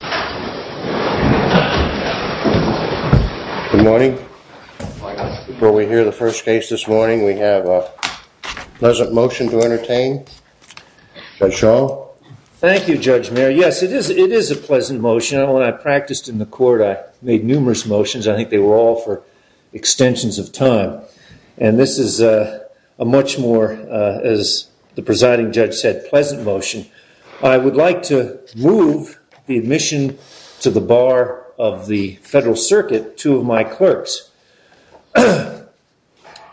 Good morning. Before we hear the first case this morning, we have a pleasant motion to entertain. Judge Shaw. Thank you, Judge Mayer. Yes, it is a pleasant motion. When I practiced in the court, I made numerous motions. I think they were all for extensions of time. And this is a much more, as the presiding judge said, pleasant motion. I would like to move the admission to the bar of the Federal Circuit, two of my clerks.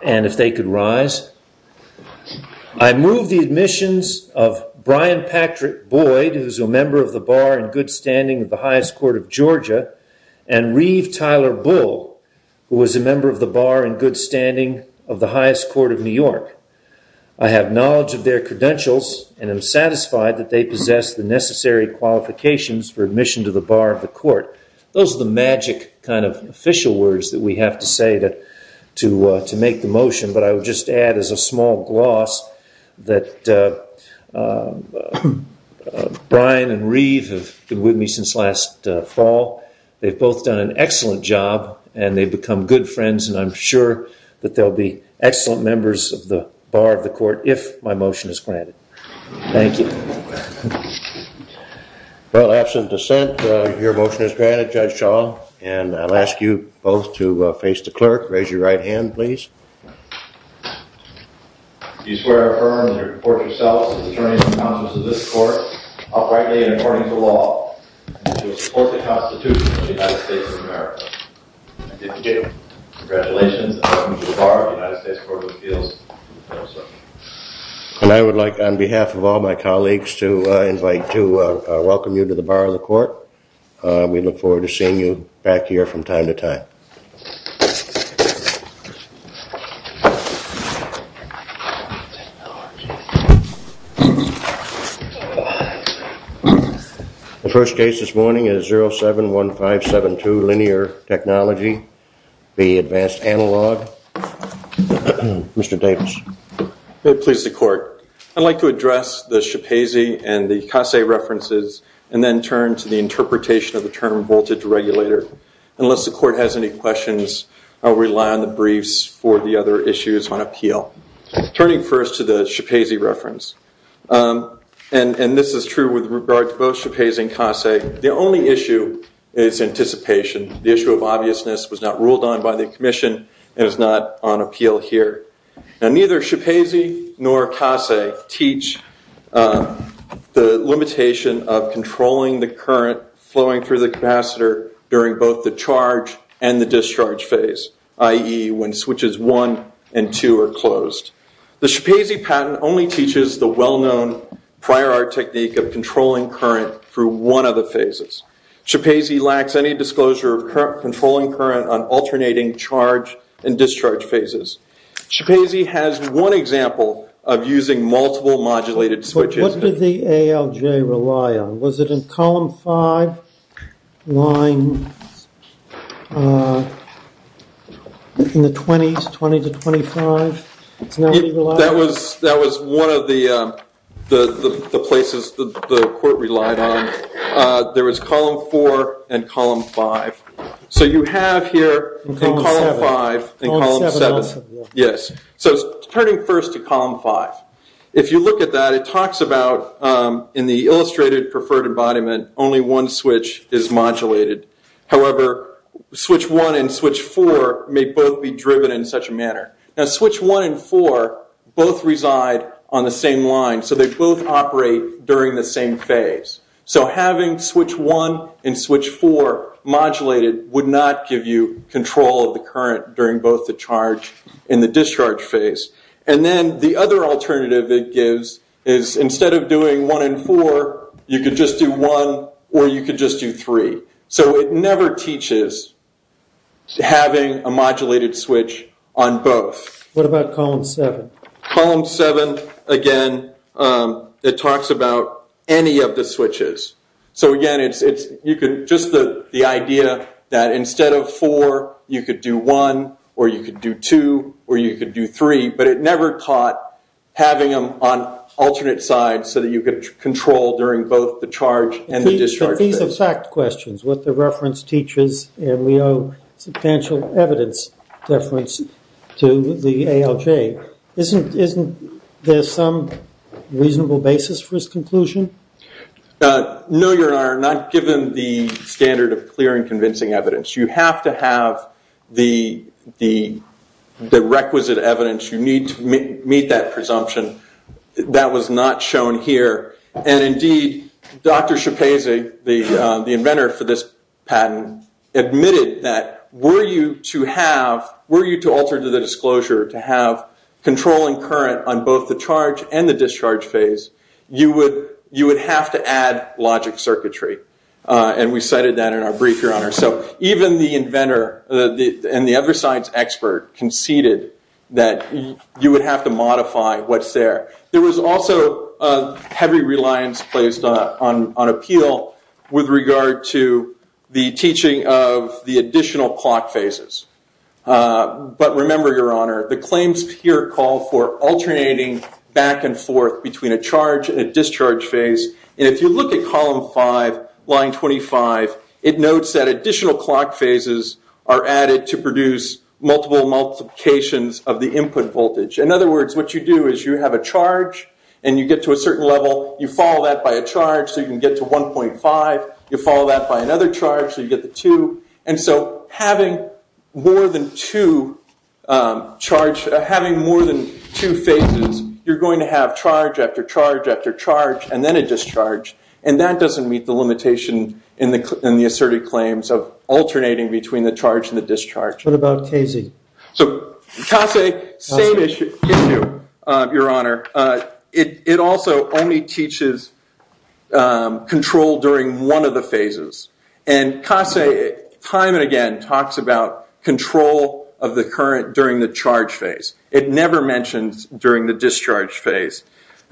And if they could rise. I move the admissions of Brian Patrick Boyd, who is a member of the bar in good standing of the highest court of Georgia, and Reeve Tyler Bull, who is a member of the bar in good standing of the highest court of New York. I have knowledge of their credentials and am satisfied that they possess the necessary qualifications for admission to the bar of the court. Those are the magic kind of official words that we have to say to make the motion, but I would just add as a small gloss that Brian and Reeve have been with me since last fall. They've both done an excellent job, and they've become good friends, and I'm sure that they'll be excellent members of the bar of the court if my motion is granted. Thank you. Well, absent dissent, your motion is granted, Judge Shaw, and I'll ask you both to face the clerk. Raise your right hand, please. Do you swear or affirm that you report yourself as an attorney in the conscience of this court, outrightly and according to the law of the United States Court of Appeals? No, sir. And I would like, on behalf of all my colleagues, to invite to welcome you to the bar of the court. We look forward to seeing you back here from time to time. The first case this morning is 071572, Linear Technology, the Advanced Analog. Mr. Davis. May it please the court. I'd like to address the Shapazy and the Casse references, and then turn to the interpretation of the term voltage regulator. Unless the court has any questions, I'll rely on the briefs for the other issues on appeal. Turning first to the Shapazy reference, and this is true with regard to both Shapazy and Casse. The Shapazy reference was not ruled on by the commission, and is not on appeal here. Neither Shapazy nor Casse teach the limitation of controlling the current flowing through the capacitor during both the charge and the discharge phase, i.e. when switches one and two are closed. The Shapazy patent only teaches the well-known prior art technique of controlling current through one of the phases. Shapazy lacks any disclosure of controlling current on alternating charge and discharge phases. Shapazy has one example of using multiple modulated switches. What did the ALJ rely on? Was it in column 5, line 20-25? That was one of the places the court relied on. There was column 4 and column 5. So you have here in column 5 and column 7. So turning first to column 5. If you look at that, it talks about in the illustrated preferred embodiment, only one switch is modulated. However, switch 1 and switch 4 may both be driven in such a manner. Now switch 1 and 4 both reside on the same line, so they both operate during the same phase. So having switch 1 and switch 4 modulated would not give you control of the current during both the charge and the discharge phase. And then the other alternative it gives is instead of doing 1 and 4, you could just do 1 or you could just do 3. So it never teaches having a modulated switch on both. What about column 7? Column 7, again, it talks about any of the switches. So again, you could just the idea that instead of 4, you could do 1 or you could do 2 or you could do 3. But it never taught having them on alternate sides so that you could control during both the charge and the discharge phase. But these are fact questions. What the reference teaches, and we owe substantial evidence deference to the ALJ. Isn't there some reasonable basis for his conclusion? No, Your Honor. Not given the standard of clear and convincing evidence. You have to have the requisite evidence. You need to meet that presumption. That was not shown here. And indeed, Dr. Schapese, the inventor for this patent, admitted that were you to alter to the disclosure to have control and current on both the charge and the discharge phase, you would have to add logic circuitry. And we cited that in our brief, Your Honor. So even the inventor and the other science expert conceded that you would have to modify what's there. There was also a heavy reliance placed on appeal with regard to the teaching of the additional clock phases. But remember, Your Honor, the claims here call for alternating back and forth between a charge and a discharge phase. And if you look at column 5, line 25, it notes that additional clock phases are added to produce multiple multiplications of the input voltage. In other words, what you do is you have a charge and you get to a certain level. You follow that by a charge so you can get to 1.5. You follow that by another charge so you get to 2. And so having more than two charges, having more than two phases, you're going to have charge after charge after charge and then a discharge. And that doesn't meet the limitation in the asserted claims of alternating between the charge and the discharge. What about CASE? So CASE, same issue, Your Honor. It also only teaches control during one of the phases. And CASE time and again talks about control of the current during the charge phase. It never mentions during the discharge phase.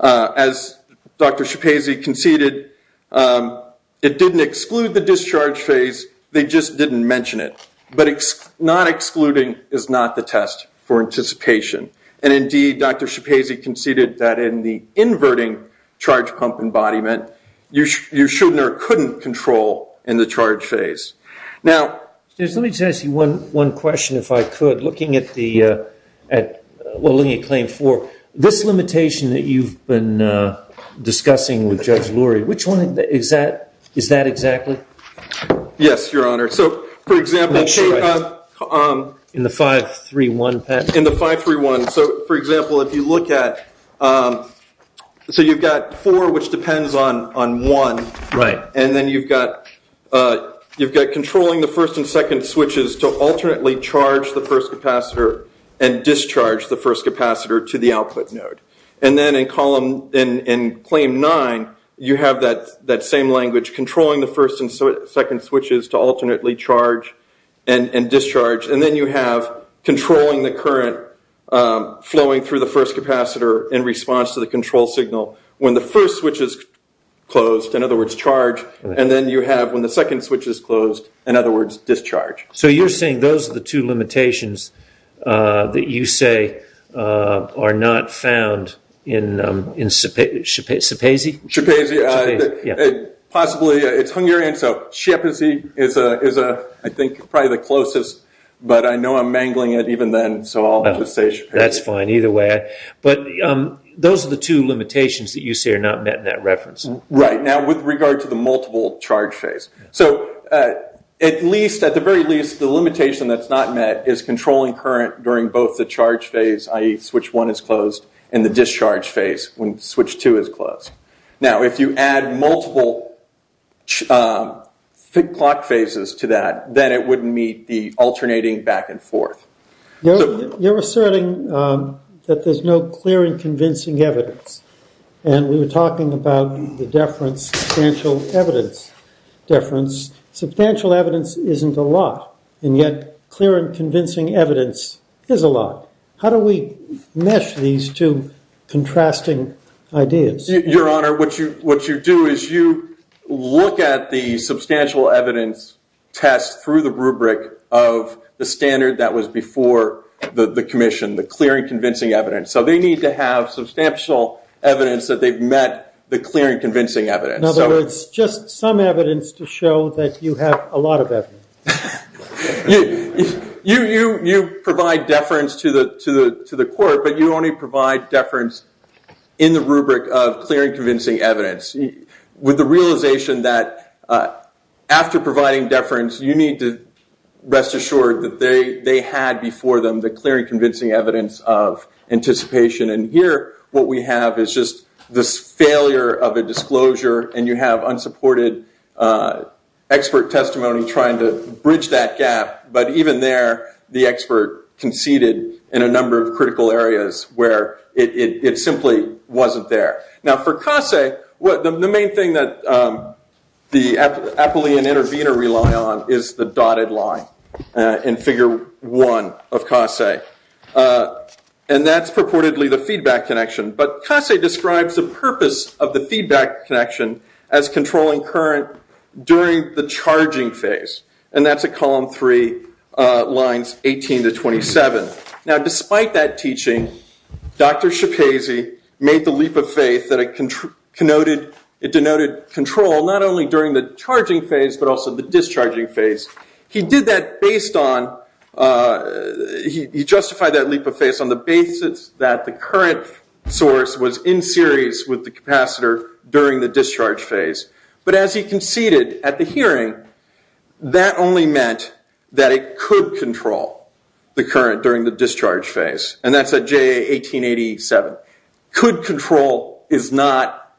As Dr. Schapese conceded, it didn't exclude the discharge phase, they just didn't mention it. But not excluding is not the test for anticipation. And indeed, Dr. Schapese conceded that in the inverting charge pump embodiment, you shouldn't or couldn't control in the charge phase. Now, let me just ask you one question if I could. Looking at Claim 4, this limitation that you've been discussing with Judge Lurie, which one is that exactly? Yes, Your Honor. So for example, in the 531, so for example, if you look at, so you've got 4, which depends on 1, and then you've got controlling the first and second switches to alternately charge the first capacitor and discharge the first capacitor to the output node. And then in Claim 9, you have that same language, controlling the first and second switches to alternately charge and discharge. And then you have controlling the current when the first switch is closed, in other words, charge, and then you have when the second switch is closed, in other words, discharge. So you're saying those are the two limitations that you say are not found in Schapese? Schapese, possibly, it's Hungarian, so Schapese is, I think, probably the closest, but I know I'm mangling it even then, so I'll just say Schapese. That's fine, either way. But those are the two limitations that you say are not met in that reference. Right, now with regard to the multiple charge phase. So at the very least, the limitation that's not met is controlling current during both the charge phase, i.e. switch 1 is closed, and the discharge phase when switch 2 is closed. Now if you add multiple clock phases to that, then it wouldn't meet the alternating back and forth. You're asserting that there's no clear and convincing evidence, and we were talking about the deference, substantial evidence deference. Substantial evidence isn't a lot, and yet clear and convincing evidence is a lot. How do we mesh these two contrasting ideas? Your Honor, what you do is you look at the substantial evidence test through the rubric of the standard that was before the commission, the clear and convincing evidence. So they need to have substantial evidence that they've met the clear and convincing evidence. In other words, just some evidence to show that you have a lot of evidence. You provide deference to the court, but you only provide deference in the rubric of clear and convincing evidence, with the realization that after providing deference, you need to rest assured that they had before them the clear and convincing evidence of anticipation. And here, what we have is just this failure of a disclosure, and you have unsupported expert testimony trying to bridge that gap. But even there, the expert conceded in a number of critical areas where it simply wasn't there. Now for Casse, the main thing that the Appellee and Intervenor rely on is the dotted line in Figure 1 of Casse, and that's purportedly the feedback connection. But Casse describes the purpose of the feedback connection as controlling current during the charging phase, and that's at Column 3, Lines 18 to 27. Now despite that teaching, Dr. Schapese made the leap of faith that it denoted control not only during the charging phase, but also the discharging phase. He justified that leap of faith on the basis that the current source was in series with the capacitor during the discharge phase. But as he conceded at the hearing, that only meant that it could control the current during the discharge phase, and that's at JA 1887. Could control is not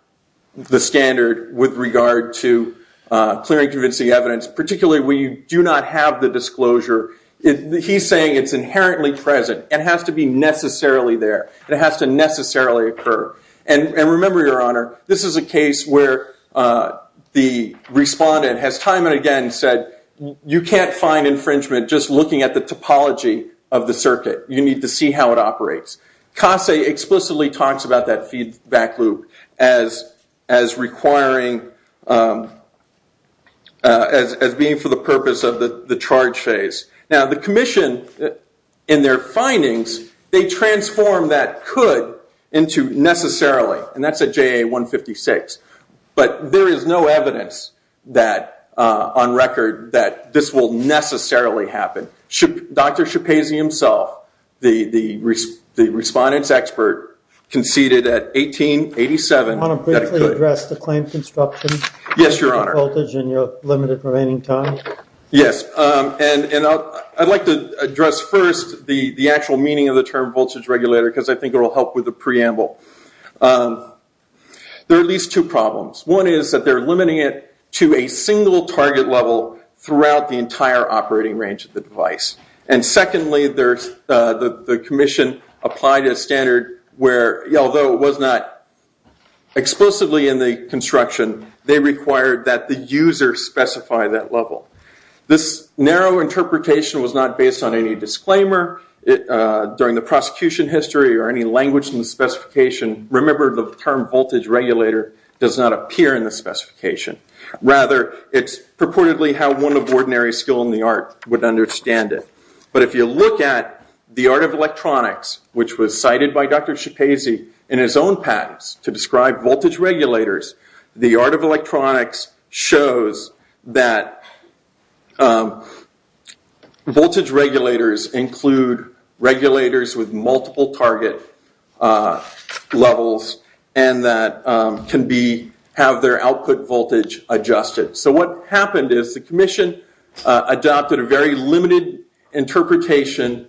the standard with regard to clear and convincing evidence, particularly when you do not have the disclosure. He's saying it's inherently present. It has to be necessarily there. It has to necessarily occur. And remember, Your Honor, this is a case where the respondent has time and again said you can't find infringement just looking at the topology of the circuit. You need to see how it operates. Casse explicitly talks about that feedback loop as requiring, as being for the purpose of the charge phase. Now the Commission, in their findings, they do not issue necessarily, and that's at JA 156. But there is no evidence on record that this will necessarily happen. Dr. Schapese himself, the respondent's expert, conceded at 1887. I want to briefly address the claim construction voltage and your limited remaining time. Yes, Your Honor. Yes, and I'd like to address first the actual meaning of the term voltage regulator because I think it will help with the preamble. There are at least two problems. One is that they're limiting it to a single target level throughout the entire operating range of the device. And secondly, the Commission applied a standard where, although it was not explicitly in the construction, they required that the user specify that level. This narrow interpretation was not based on any disclaimer during the prosecution history or any language in the specification. Remember, the term voltage regulator does not appear in the specification. Rather, it's purportedly how one of ordinary skill in the art would understand it. But if you look at the art of electronics, which was cited by Dr. Schapese in his own patents to describe voltage regulators, the regulators with multiple target levels and that can have their output voltage adjusted. So what happened is the Commission adopted a very limited interpretation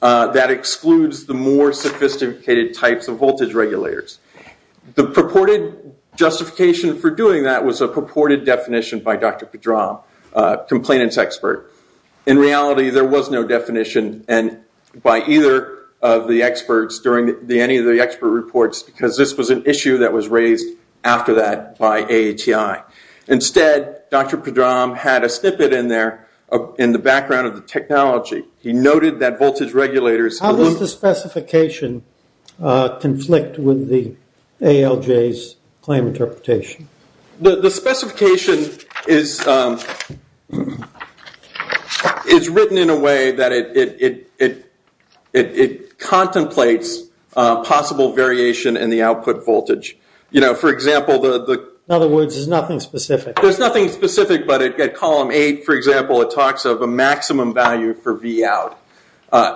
that excludes the more sophisticated types of voltage regulators. The purported justification for doing that was a purported definition by Dr. Pedram, complainant's expert. In reality, there was no definition by either of the experts during any of the expert reports because this was an issue that was raised after that by AATI. Instead, Dr. Pedram had a snippet in there in the background of the technology. He noted that voltage regulators... How does the specification conflict with the ALJ's claim interpretation? The specification is written in a way that it contemplates possible variation in the output voltage. For example, the... In other words, there's nothing specific. There's nothing specific, but at column eight, for example, it talks of a maximum value for Vout.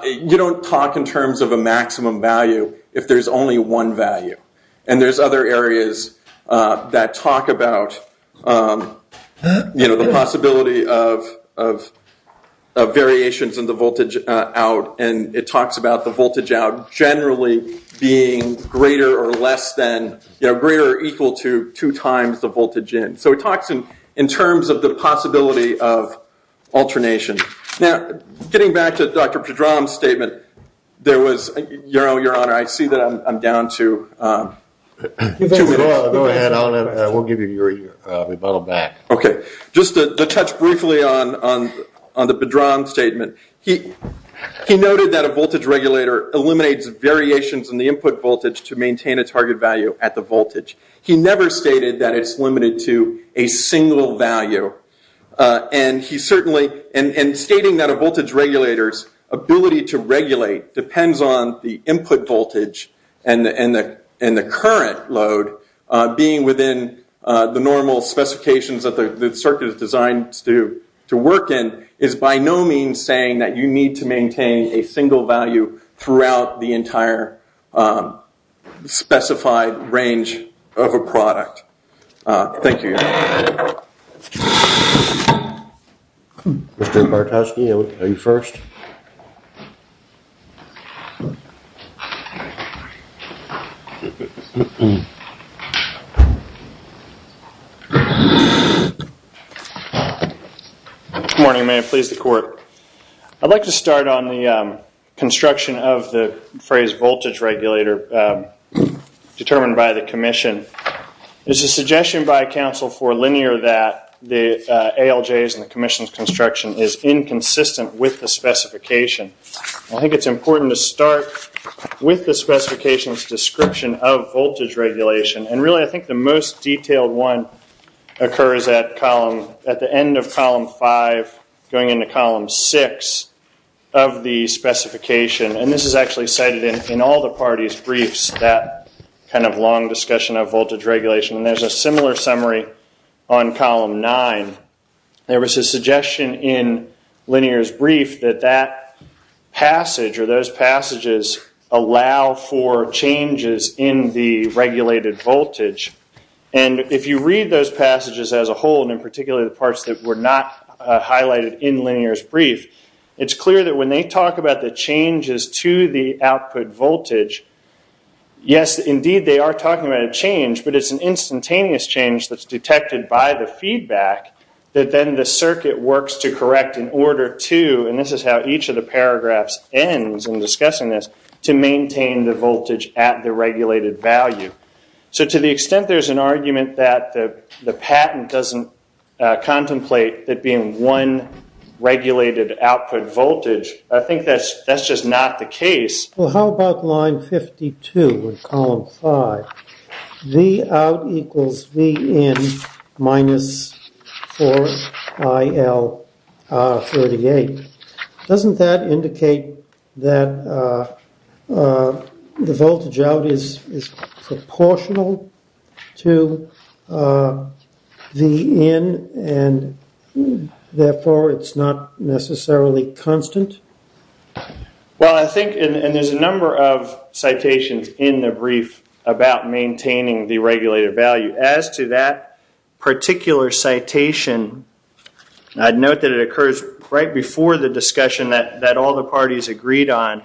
You don't talk in terms of a maximum value if there's only one value. There's other areas that talk about the possibility of variations in the voltage out and it talks about the voltage out generally being greater or less than, greater or equal to two times the voltage in. So it talks in terms of the possibility of alternation. Now, getting back to Dr. Pedram's statement, there was... Your Honor, I see that I'm down to two minutes. Go ahead. We'll give you your... We'll bring him back. Just to touch briefly on the Pedram statement, he noted that a voltage regulator eliminates variations in the input voltage to maintain a target value at the voltage. He never stated that it's limited to a single value. And he certainly... And stating that a voltage regulator's ability to regulate depends on the input voltage and the current load being within the normal specifications that the circuit is designed to work in, is by no means saying that you need to maintain a single value throughout the entire specified range of a product. Thank you, Your Honor. Mr. Bartoski, are you first? Good morning, may it please the Court. I'd like to start on the construction of the phrase voltage regulator determined by the Commission. It's a suggestion by counsel for linear that the ALJs and the Commission's construction is inconsistent with the specification. I think it's important to start with the specification's description of voltage regulation. And really, I think the most detailed one occurs at the end of Column 5, going into Column 6 of the specification. And this is actually cited in all the parties' briefs, that kind of long discussion of voltage regulation. And there's a similar summary on Column 9. There was a suggestion in Linear's brief that that passage, or those passages, allow for changes in the regulated voltage. And if you read those passages as a whole, and in particular the parts that were not highlighted in Linear's brief, it's clear that when they talk about the changes to the output voltage, yes, indeed they are talking about a change, but it's an instantaneous change that's detected by the feedback that then the circuit works to correct in order to, and this is how each of the paragraphs ends in discussing this, to maintain the voltage at the regulated value. So to the extent there's an argument that the patent doesn't contemplate that being one regulated output voltage, I think that's just not the case. Well, how about Line 52 in Column 5? V out equals V in minus 4 I L 38. Doesn't that indicate that the voltage out is proportional to V in, and therefore it's not necessarily constant? Well, I think, and there's a number of citations in the brief about maintaining the regulated value. As to that particular citation, I'd note that it occurs right before the discussion that all the parties agreed on,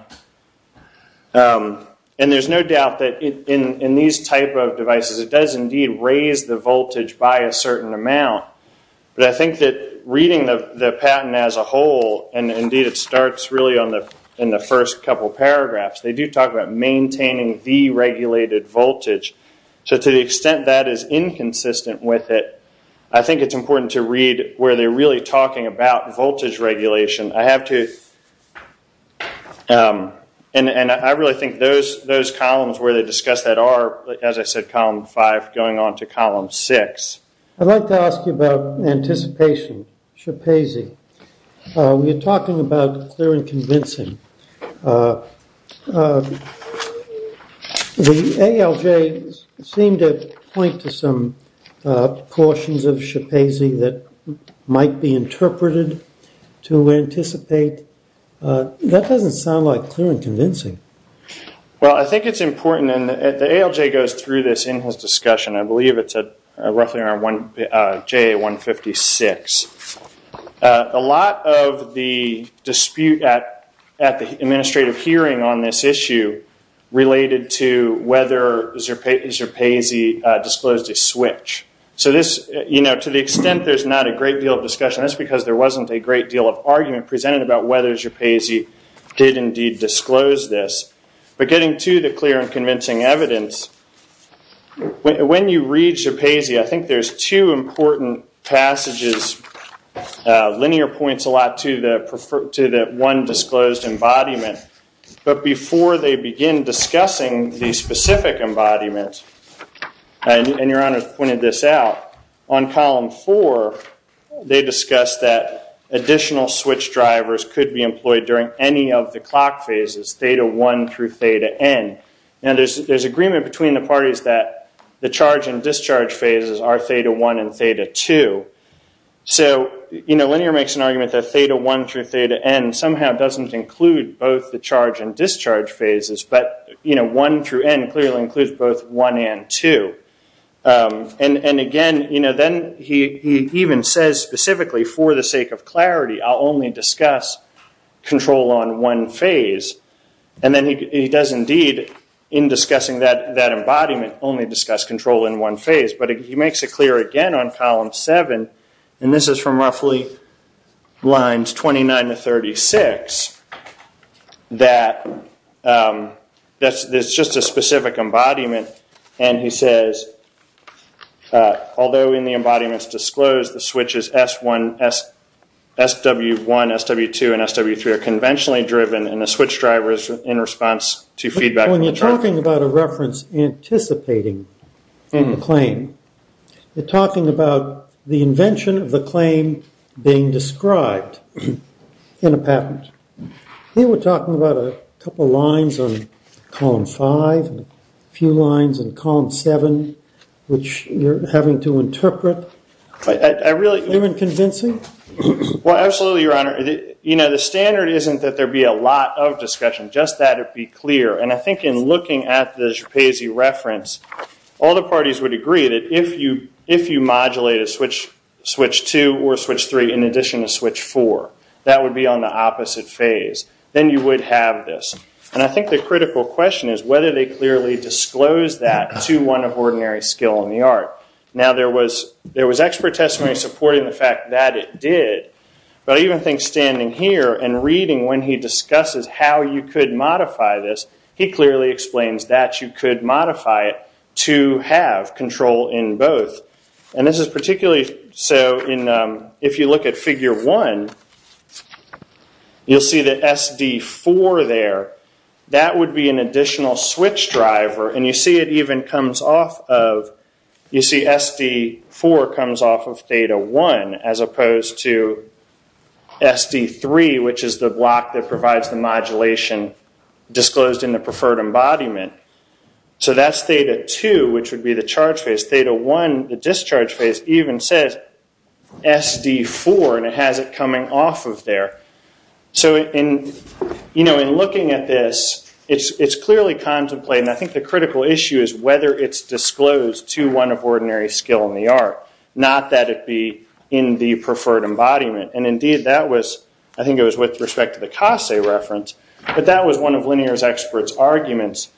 and there's no doubt that in these type of devices it does indeed raise the voltage by a certain amount, but I think that reading the patent as a whole, and indeed it starts really in the first couple paragraphs, they do talk about maintaining the regulated voltage, so to the extent that is inconsistent with it, I think it's important to read where they're really talking about voltage regulation. I have to, and I really think those columns where they discuss that are, as I said, Column 5 going on to Column 6. I'd like to ask you about anticipation. We are talking about clear and convincing. The ALJ seemed to point to some portions of SHPAZ that might be interpreted to anticipate. That doesn't sound like clear and convincing. Well, I think it's important, and the ALJ goes through this in his discussion. I believe it's roughly around JA 156. A lot of the dispute at the administrative hearing on this issue related to whether SHPAZ disclosed a switch. To the extent there's not a great deal of discussion, that's because there wasn't a great deal of argument presented about whether SHPAZ did indeed disclose this, but getting to the clear and convincing evidence, when you read SHPAZ, I think there's two important passages, linear points a lot to the one disclosed embodiment, but before they begin discussing the specific embodiment, and Your Honor pointed this out, on Column 4, they discussed that additional switch drivers could be employed during any of the clock phases, Theta 1 through Theta N. There's agreement between the parties that the charge and discharge phases are Theta 1 and Theta 2. Linear makes an argument that Theta 1 through Theta N somehow doesn't include both the charge and discharge phases, but 1 through N clearly includes both 1 and 2. Again, then he even says specifically, for the sake of clarity, I'll only discuss control on one phase. He does indeed, in discussing that embodiment, only discuss control in one phase, but he makes it clear again on Column 7, and this is from roughly Lines 29 to 36, that there's just a specific embodiment, and he says, although in the embodiments disclosed, the switches SW1, SW2, and SW3 are conventionally driven, and the switch driver is in response to feedback from the charge. When you're talking about a reference anticipating a claim, you're talking about the invention of the claim being described in a patent. Here we're talking about a couple of lines on Column 5, a few lines on Column 7, which you're having to interpret. Even convincing? Well, absolutely, Your Honor. You know, the standard isn't that there be a lot of discussion, just that it be clear, and I think in looking at the Schapese reference, all the parties would agree that if you modulate a switch, switch 2 or switch 3 in addition to switch 4, that would be on the opposite phase. Then you would have this, and I think the critical question is whether they clearly disclosed that to one of ordinary skill in the art. Now, there was expert testimony supporting the fact that it did, but I even think standing here and reading when he discusses how you could modify this, he clearly explains that you could modify it to have control in both. This is particularly so if you look at Figure 1, you'll see that SD4 there, that would be an additional switch driver, and you see it even comes off of, you see SD4 comes off of Theta 1 as opposed to SD3, which is the block that provides the modulation disclosed in the preferred embodiment. So that's Theta 2, which would be the charge phase. Theta 1, the discharge phase, even says SD4, and it has it coming off of there. So in looking at this, it's clearly contemplated, and I think the critical issue is whether it's disclosed to one of ordinary skill in the art, not that it be in the preferred embodiment, and indeed that was, I think it was with respect to the Casse reference, but that was one of Linear's expert's arguments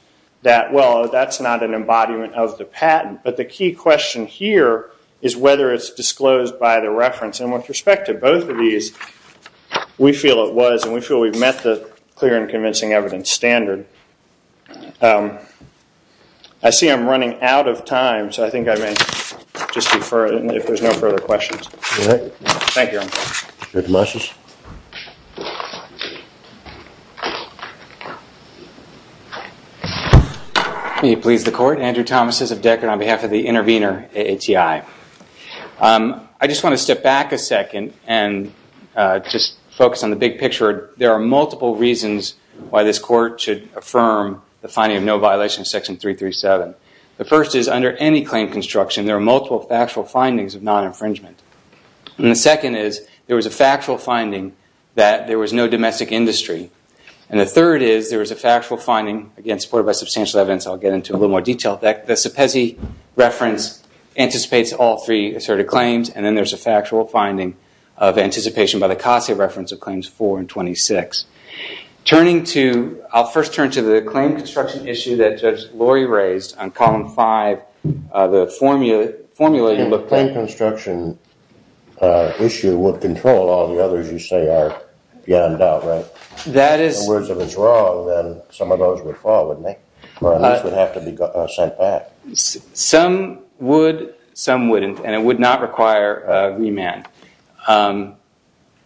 that, well, that's not an embodiment of the patent, but the key question here is whether it's disclosed by the reference, and with respect to both of these, we feel it was, and we feel we've met the clear and convincing evidence standard. I see I'm running out of time, so I think I may just defer if there's no further questions. All right. Thank you, Your Honor. Director Marshall. May it please the Court. Andrew Thomas of Deckard on behalf of the Intervenor ATI. I just want to step back a second and just focus on the big picture. There are multiple reasons why this Court should affirm the finding of no violation of Section 337. The first is under any claim construction, there are multiple factual findings of non-infringement, and the second is there was a factual finding that there was no domestic industry, and the third is there was a factual finding, again supported by substantial evidence, I'll get into a little more detail. The CEPESI reference anticipates all three asserted claims, and then there's a factual finding of anticipation by the CASA reference of Claims 4 and 26. Turning to, I'll first turn to the claim construction issue that Judge Lori raised on Column 5, the formula. The claim construction issue would control all the others you say are beyond doubt, right? That is. In other words, if it's wrong, then some of those would fall, wouldn't they? Or at least would have to be sent back. Some would, some wouldn't, and it would not require remand.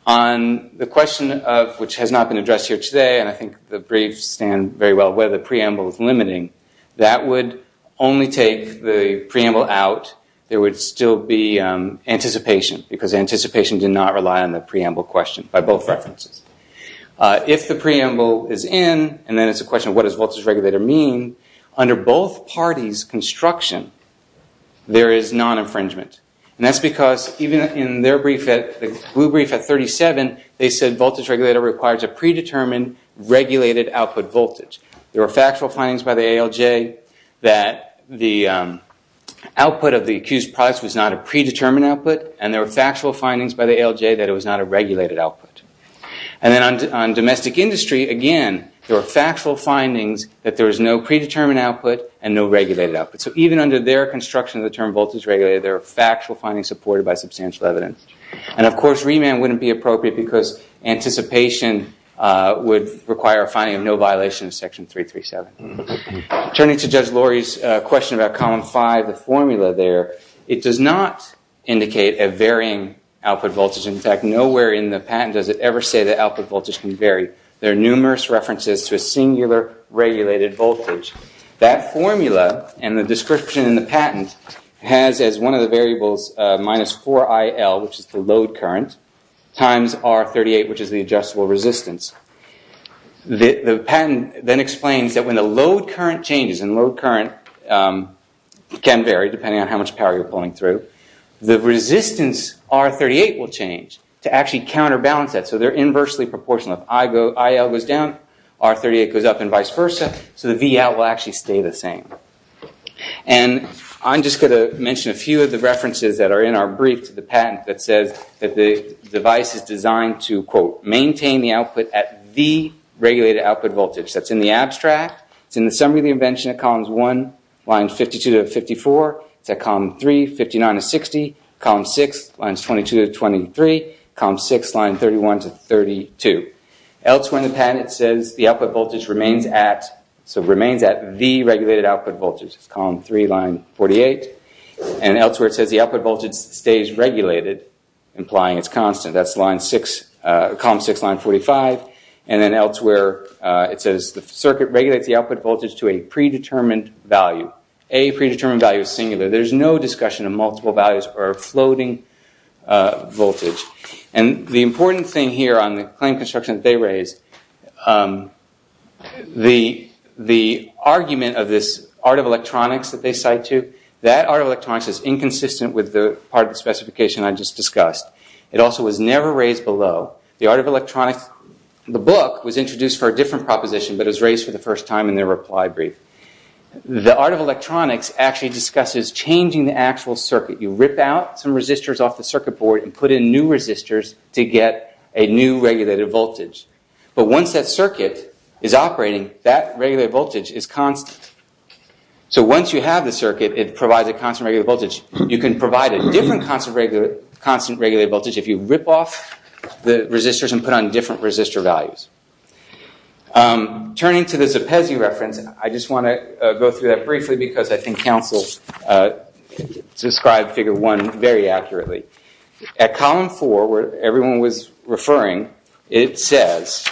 On the question of, which has not been addressed here today, and I think the briefs stand very well, whether the preamble is limiting, that would only take the preamble out, there would still be anticipation, because anticipation did not rely on the preamble question by both references. If the preamble is in, and then it's a question of what does voltage regulator mean, under both parties' construction, there is non-infringement. And that's because even in their brief, the blue brief at 37, they said voltage regulator requires a predetermined regulated output voltage. There were factual findings by the ALJ that the output of the accused products was not a predetermined output, and there were factual findings by the ALJ that it was not a regulated output. And then on domestic industry, again, there were factual findings that there was no predetermined output and no regulated output. So even under their construction of the term voltage regulator, there are factual findings supported by substantial evidence. And, of course, remand wouldn't be appropriate, because anticipation would require a finding of no violation of Section 337. Turning to Judge Lori's question about Column 5, the formula there, it does not indicate a varying output voltage. In fact, nowhere in the patent does it ever say the output voltage can vary. There are numerous references to a singular regulated voltage. That formula and the description in the patent has as one of the variables minus 4IL, which is the load current, times R38, which is the adjustable resistance. The patent then explains that when the load current changes, and load current can vary depending on how much power you're pulling through, the resistance R38 will change to actually counterbalance that. So they're inversely proportional. If IL goes down, R38 goes up, and vice versa. So the Vout will actually stay the same. And I'm just going to mention a few of the references that are in our brief to the patent that says that the device is designed to, quote, maintain the output at the regulated output voltage. That's in the abstract. It's in the summary of the invention at columns 1, lines 52 to 54. It's at column 3, 59 to 60. Column 6, lines 22 to 23. Column 6, line 31 to 32. Elsewhere in the patent it says the output voltage remains at the regulated output voltage. It's column 3, line 48. And elsewhere it says the output voltage stays regulated, implying it's constant. That's column 6, line 45. And then elsewhere it says the circuit regulates the output voltage to a predetermined value. A predetermined value is singular. There's no discussion of multiple values or floating voltage. And the important thing here on the claim construction that they raise, the argument of this art of electronics that they cite to, that art of electronics is inconsistent with the part of the specification I just discussed. It also was never raised below. The art of electronics, the book was introduced for a different proposition, but it was raised for the first time in their reply brief. The art of electronics actually discusses changing the actual circuit. You rip out some resistors off the circuit board and put in new resistors to get a new regulated voltage. But once that circuit is operating, that regulated voltage is constant. So once you have the circuit, it provides a constant regulated voltage. You can provide a different constant regulated voltage if you rip off the resistors and put on different resistor values. Turning to the Zepezi reference, I just want to go through that briefly because I think counsel described figure 1 very accurately. At column 4, where everyone was referring, it says,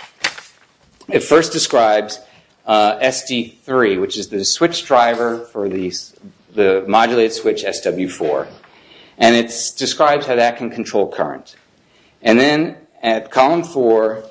it first describes SD3, which is the switch driver for the modulated switch SW4. And it describes how that can control current. And then at column 4,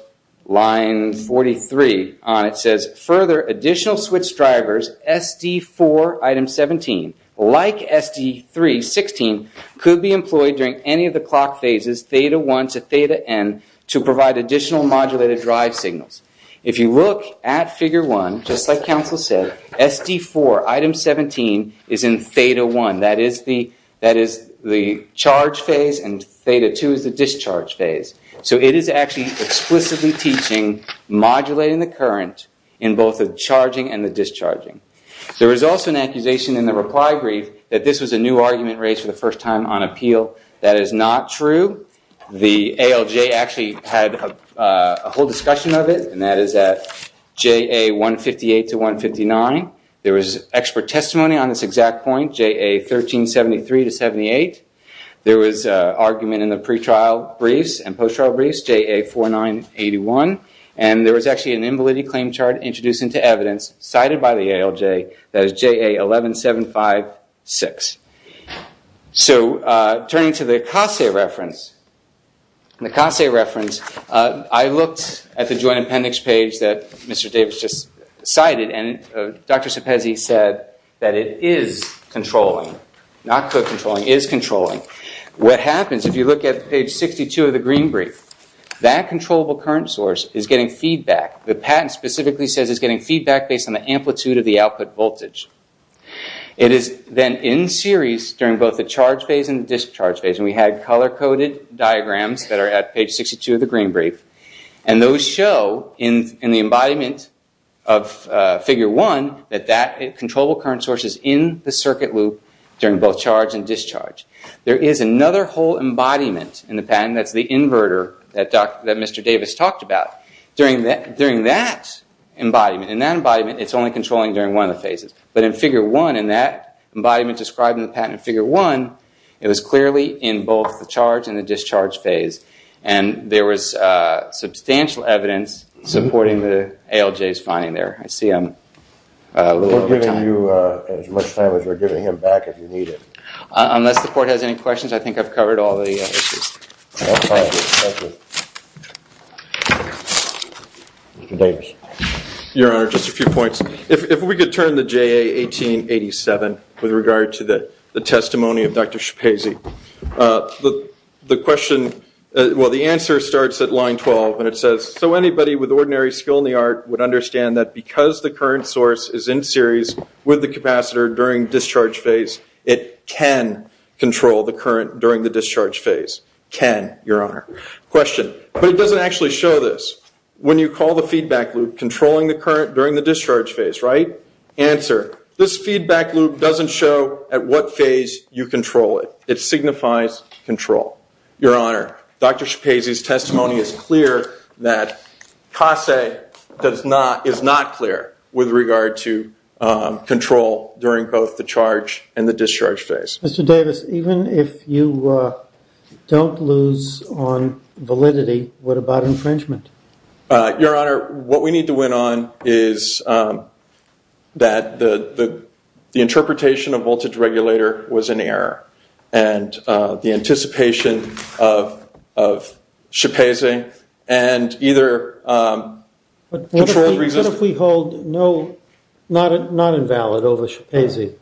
line 43 on it says, further additional switch drivers, SD4 item 17, like SD3, 16, could be employed during any of the clock phases, theta 1 to theta N, to provide additional modulated drive signals. If you look at figure 1, just like counsel said, SD4 item 17 is in theta 1. That is the charge phase, and theta 2 is the discharge phase. So it is actually explicitly teaching modulating the current in both the charging and the discharging. There is also an accusation in the reply brief that this was a new argument raised for the first time on appeal. That is not true. The ALJ actually had a whole discussion of it, and that is at JA 158 to 159. There was expert testimony on this exact point, JA 1373 to 78. There was argument in the pre-trial briefs and post-trial briefs, JA 4981. And there was actually an invalidity claim chart introduced into evidence cited by the ALJ that is JA 11756. So turning to the CASA reference, in the CASA reference I looked at the joint appendix page that Mr. Davis just cited and Dr. Sepezi said that it is controlling, not co-controlling, it is controlling. What happens if you look at page 62 of the green brief, that controllable current source is getting feedback. The patent specifically says it is getting feedback based on the amplitude of the output voltage. It is then in series during both the charge phase and the discharge phase, and we had color-coded diagrams that are at page 62 of the green brief, and those show in the embodiment of Figure 1 that that controllable current source is in the circuit loop during both charge and discharge. There is another whole embodiment in the patent, that is the inverter that Mr. Davis talked about. During that embodiment, it is only controlling during one of the phases. But in Figure 1, in that embodiment described in the patent in Figure 1, it was clearly in both the charge and the discharge phase. And there was substantial evidence supporting the ALJ's finding there. I see I'm a little over time. We're giving you as much time as we're giving him back if you need it. Unless the court has any questions, I think I've covered all the issues. Thank you. Mr. Davis. Your Honor, just a few points. If we could turn to JA 1887 with regard to the testimony of Dr. Sepezi. The answer starts at line 12, and it says, So anybody with ordinary skill in the art would understand that because the current source is in series with the capacitor during discharge phase, it can control the current during the discharge phase. Can, Your Honor. Question. But it doesn't actually show this. When you call the feedback loop controlling the current during the discharge phase, right? Answer. This feedback loop doesn't show at what phase you control it. It signifies control. Your Honor, Dr. Sepezi's testimony is clear that CASE is not clear with regard to control during both the charge and the discharge phase. Mr. Davis, even if you don't lose on validity, what about infringement? Your Honor, what we need to win on is that the interpretation of voltage regulator was an error. And the anticipation of Sepezi and either controlled resistance. What if we hold no, not invalid over Sepezi?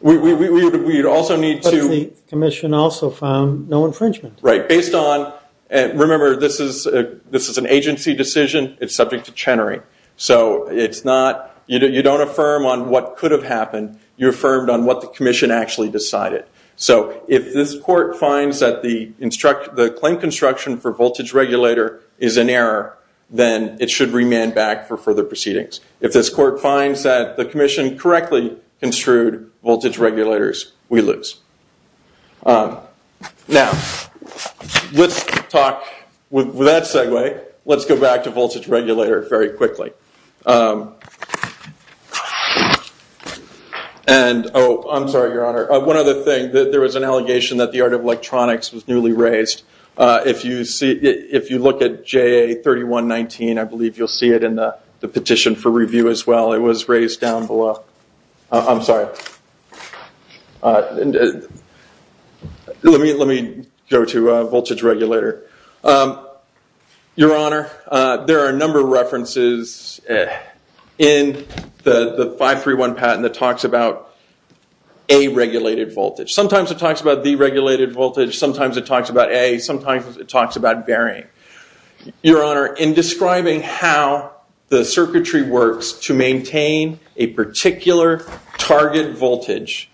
We would also need to. But the commission also found no infringement. Right. Based on, remember, this is an agency decision. It's subject to Chenery. So it's not, you don't affirm on what could have happened. You affirmed on what the commission actually decided. So if this court finds that the claim construction for voltage regulator is an error, then it should remand back for further proceedings. If this court finds that the commission correctly construed voltage regulators, we lose. Now, let's talk, with that segue, let's go back to voltage regulator very quickly. And, oh, I'm sorry, Your Honor. One other thing, there was an allegation that the art of electronics was newly raised. If you look at JA3119, I believe you'll see it in the petition for review as well. It was raised down below. I'm sorry. Let me go to voltage regulator. Your Honor, there are a number of references in the 531 patent that talks about A-regulated voltage. Sometimes it talks about D-regulated voltage. Sometimes it talks about A. Sometimes it talks about bearing. Your Honor, in describing how the circuitry works to maintain a particular target voltage,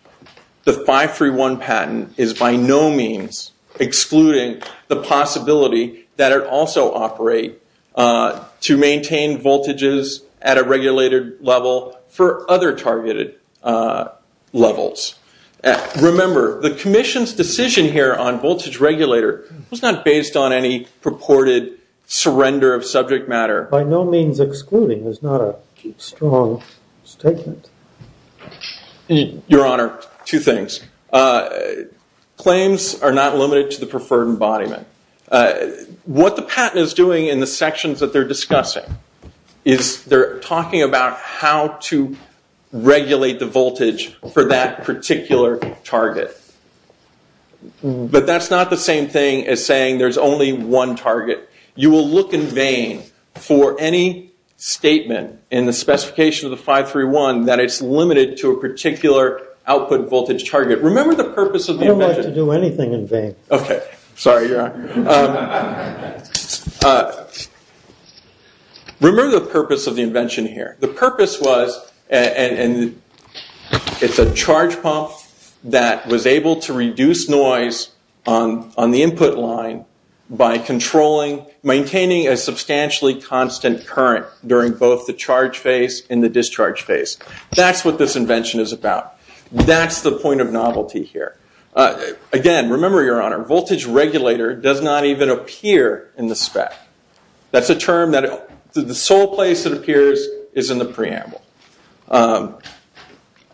the 531 patent is by no means excluding the possibility that it also operate to maintain voltages at a regulated level for other targeted levels. Remember, the commission's decision here on voltage regulator was not based on any purported surrender of subject matter. By no means excluding is not a strong statement. Your Honor, two things. Claims are not limited to the preferred embodiment. What the patent is doing in the sections that they're discussing is they're talking about how to regulate the voltage for that particular target. But that's not the same thing as saying there's only one target. You will look in vain for any statement in the specification of the 531 that it's limited to a particular output voltage target. Remember the purpose of the invention. Okay. Sorry, Your Honor. Remember the purpose of the invention here. The purpose was, and it's a charge pump that was able to reduce noise on the input line by controlling, maintaining a substantially constant current during both the charge phase and the discharge phase. That's what this invention is about. That's the point of novelty here. Again, remember, Your Honor, voltage regulator does not even appear in the spec. That's a term that the sole place it appears is in the preamble.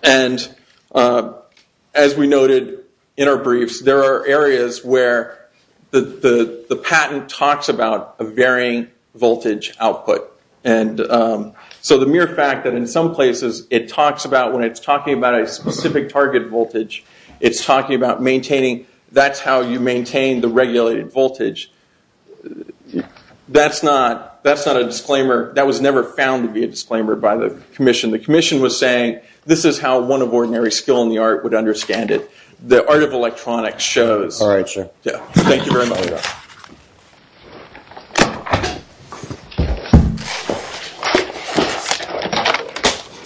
And as we noted in our briefs, there are areas where the patent talks about a varying voltage output. So the mere fact that in some places it talks about, when it's talking about a specific target voltage, it's talking about maintaining, that's how you maintain the regulated voltage. That's not a disclaimer. That was never found to be a disclaimer by the commission. The commission was saying this is how one of ordinary skill in the art would understand it. The art of electronics shows. All right, sir. Thank you very much.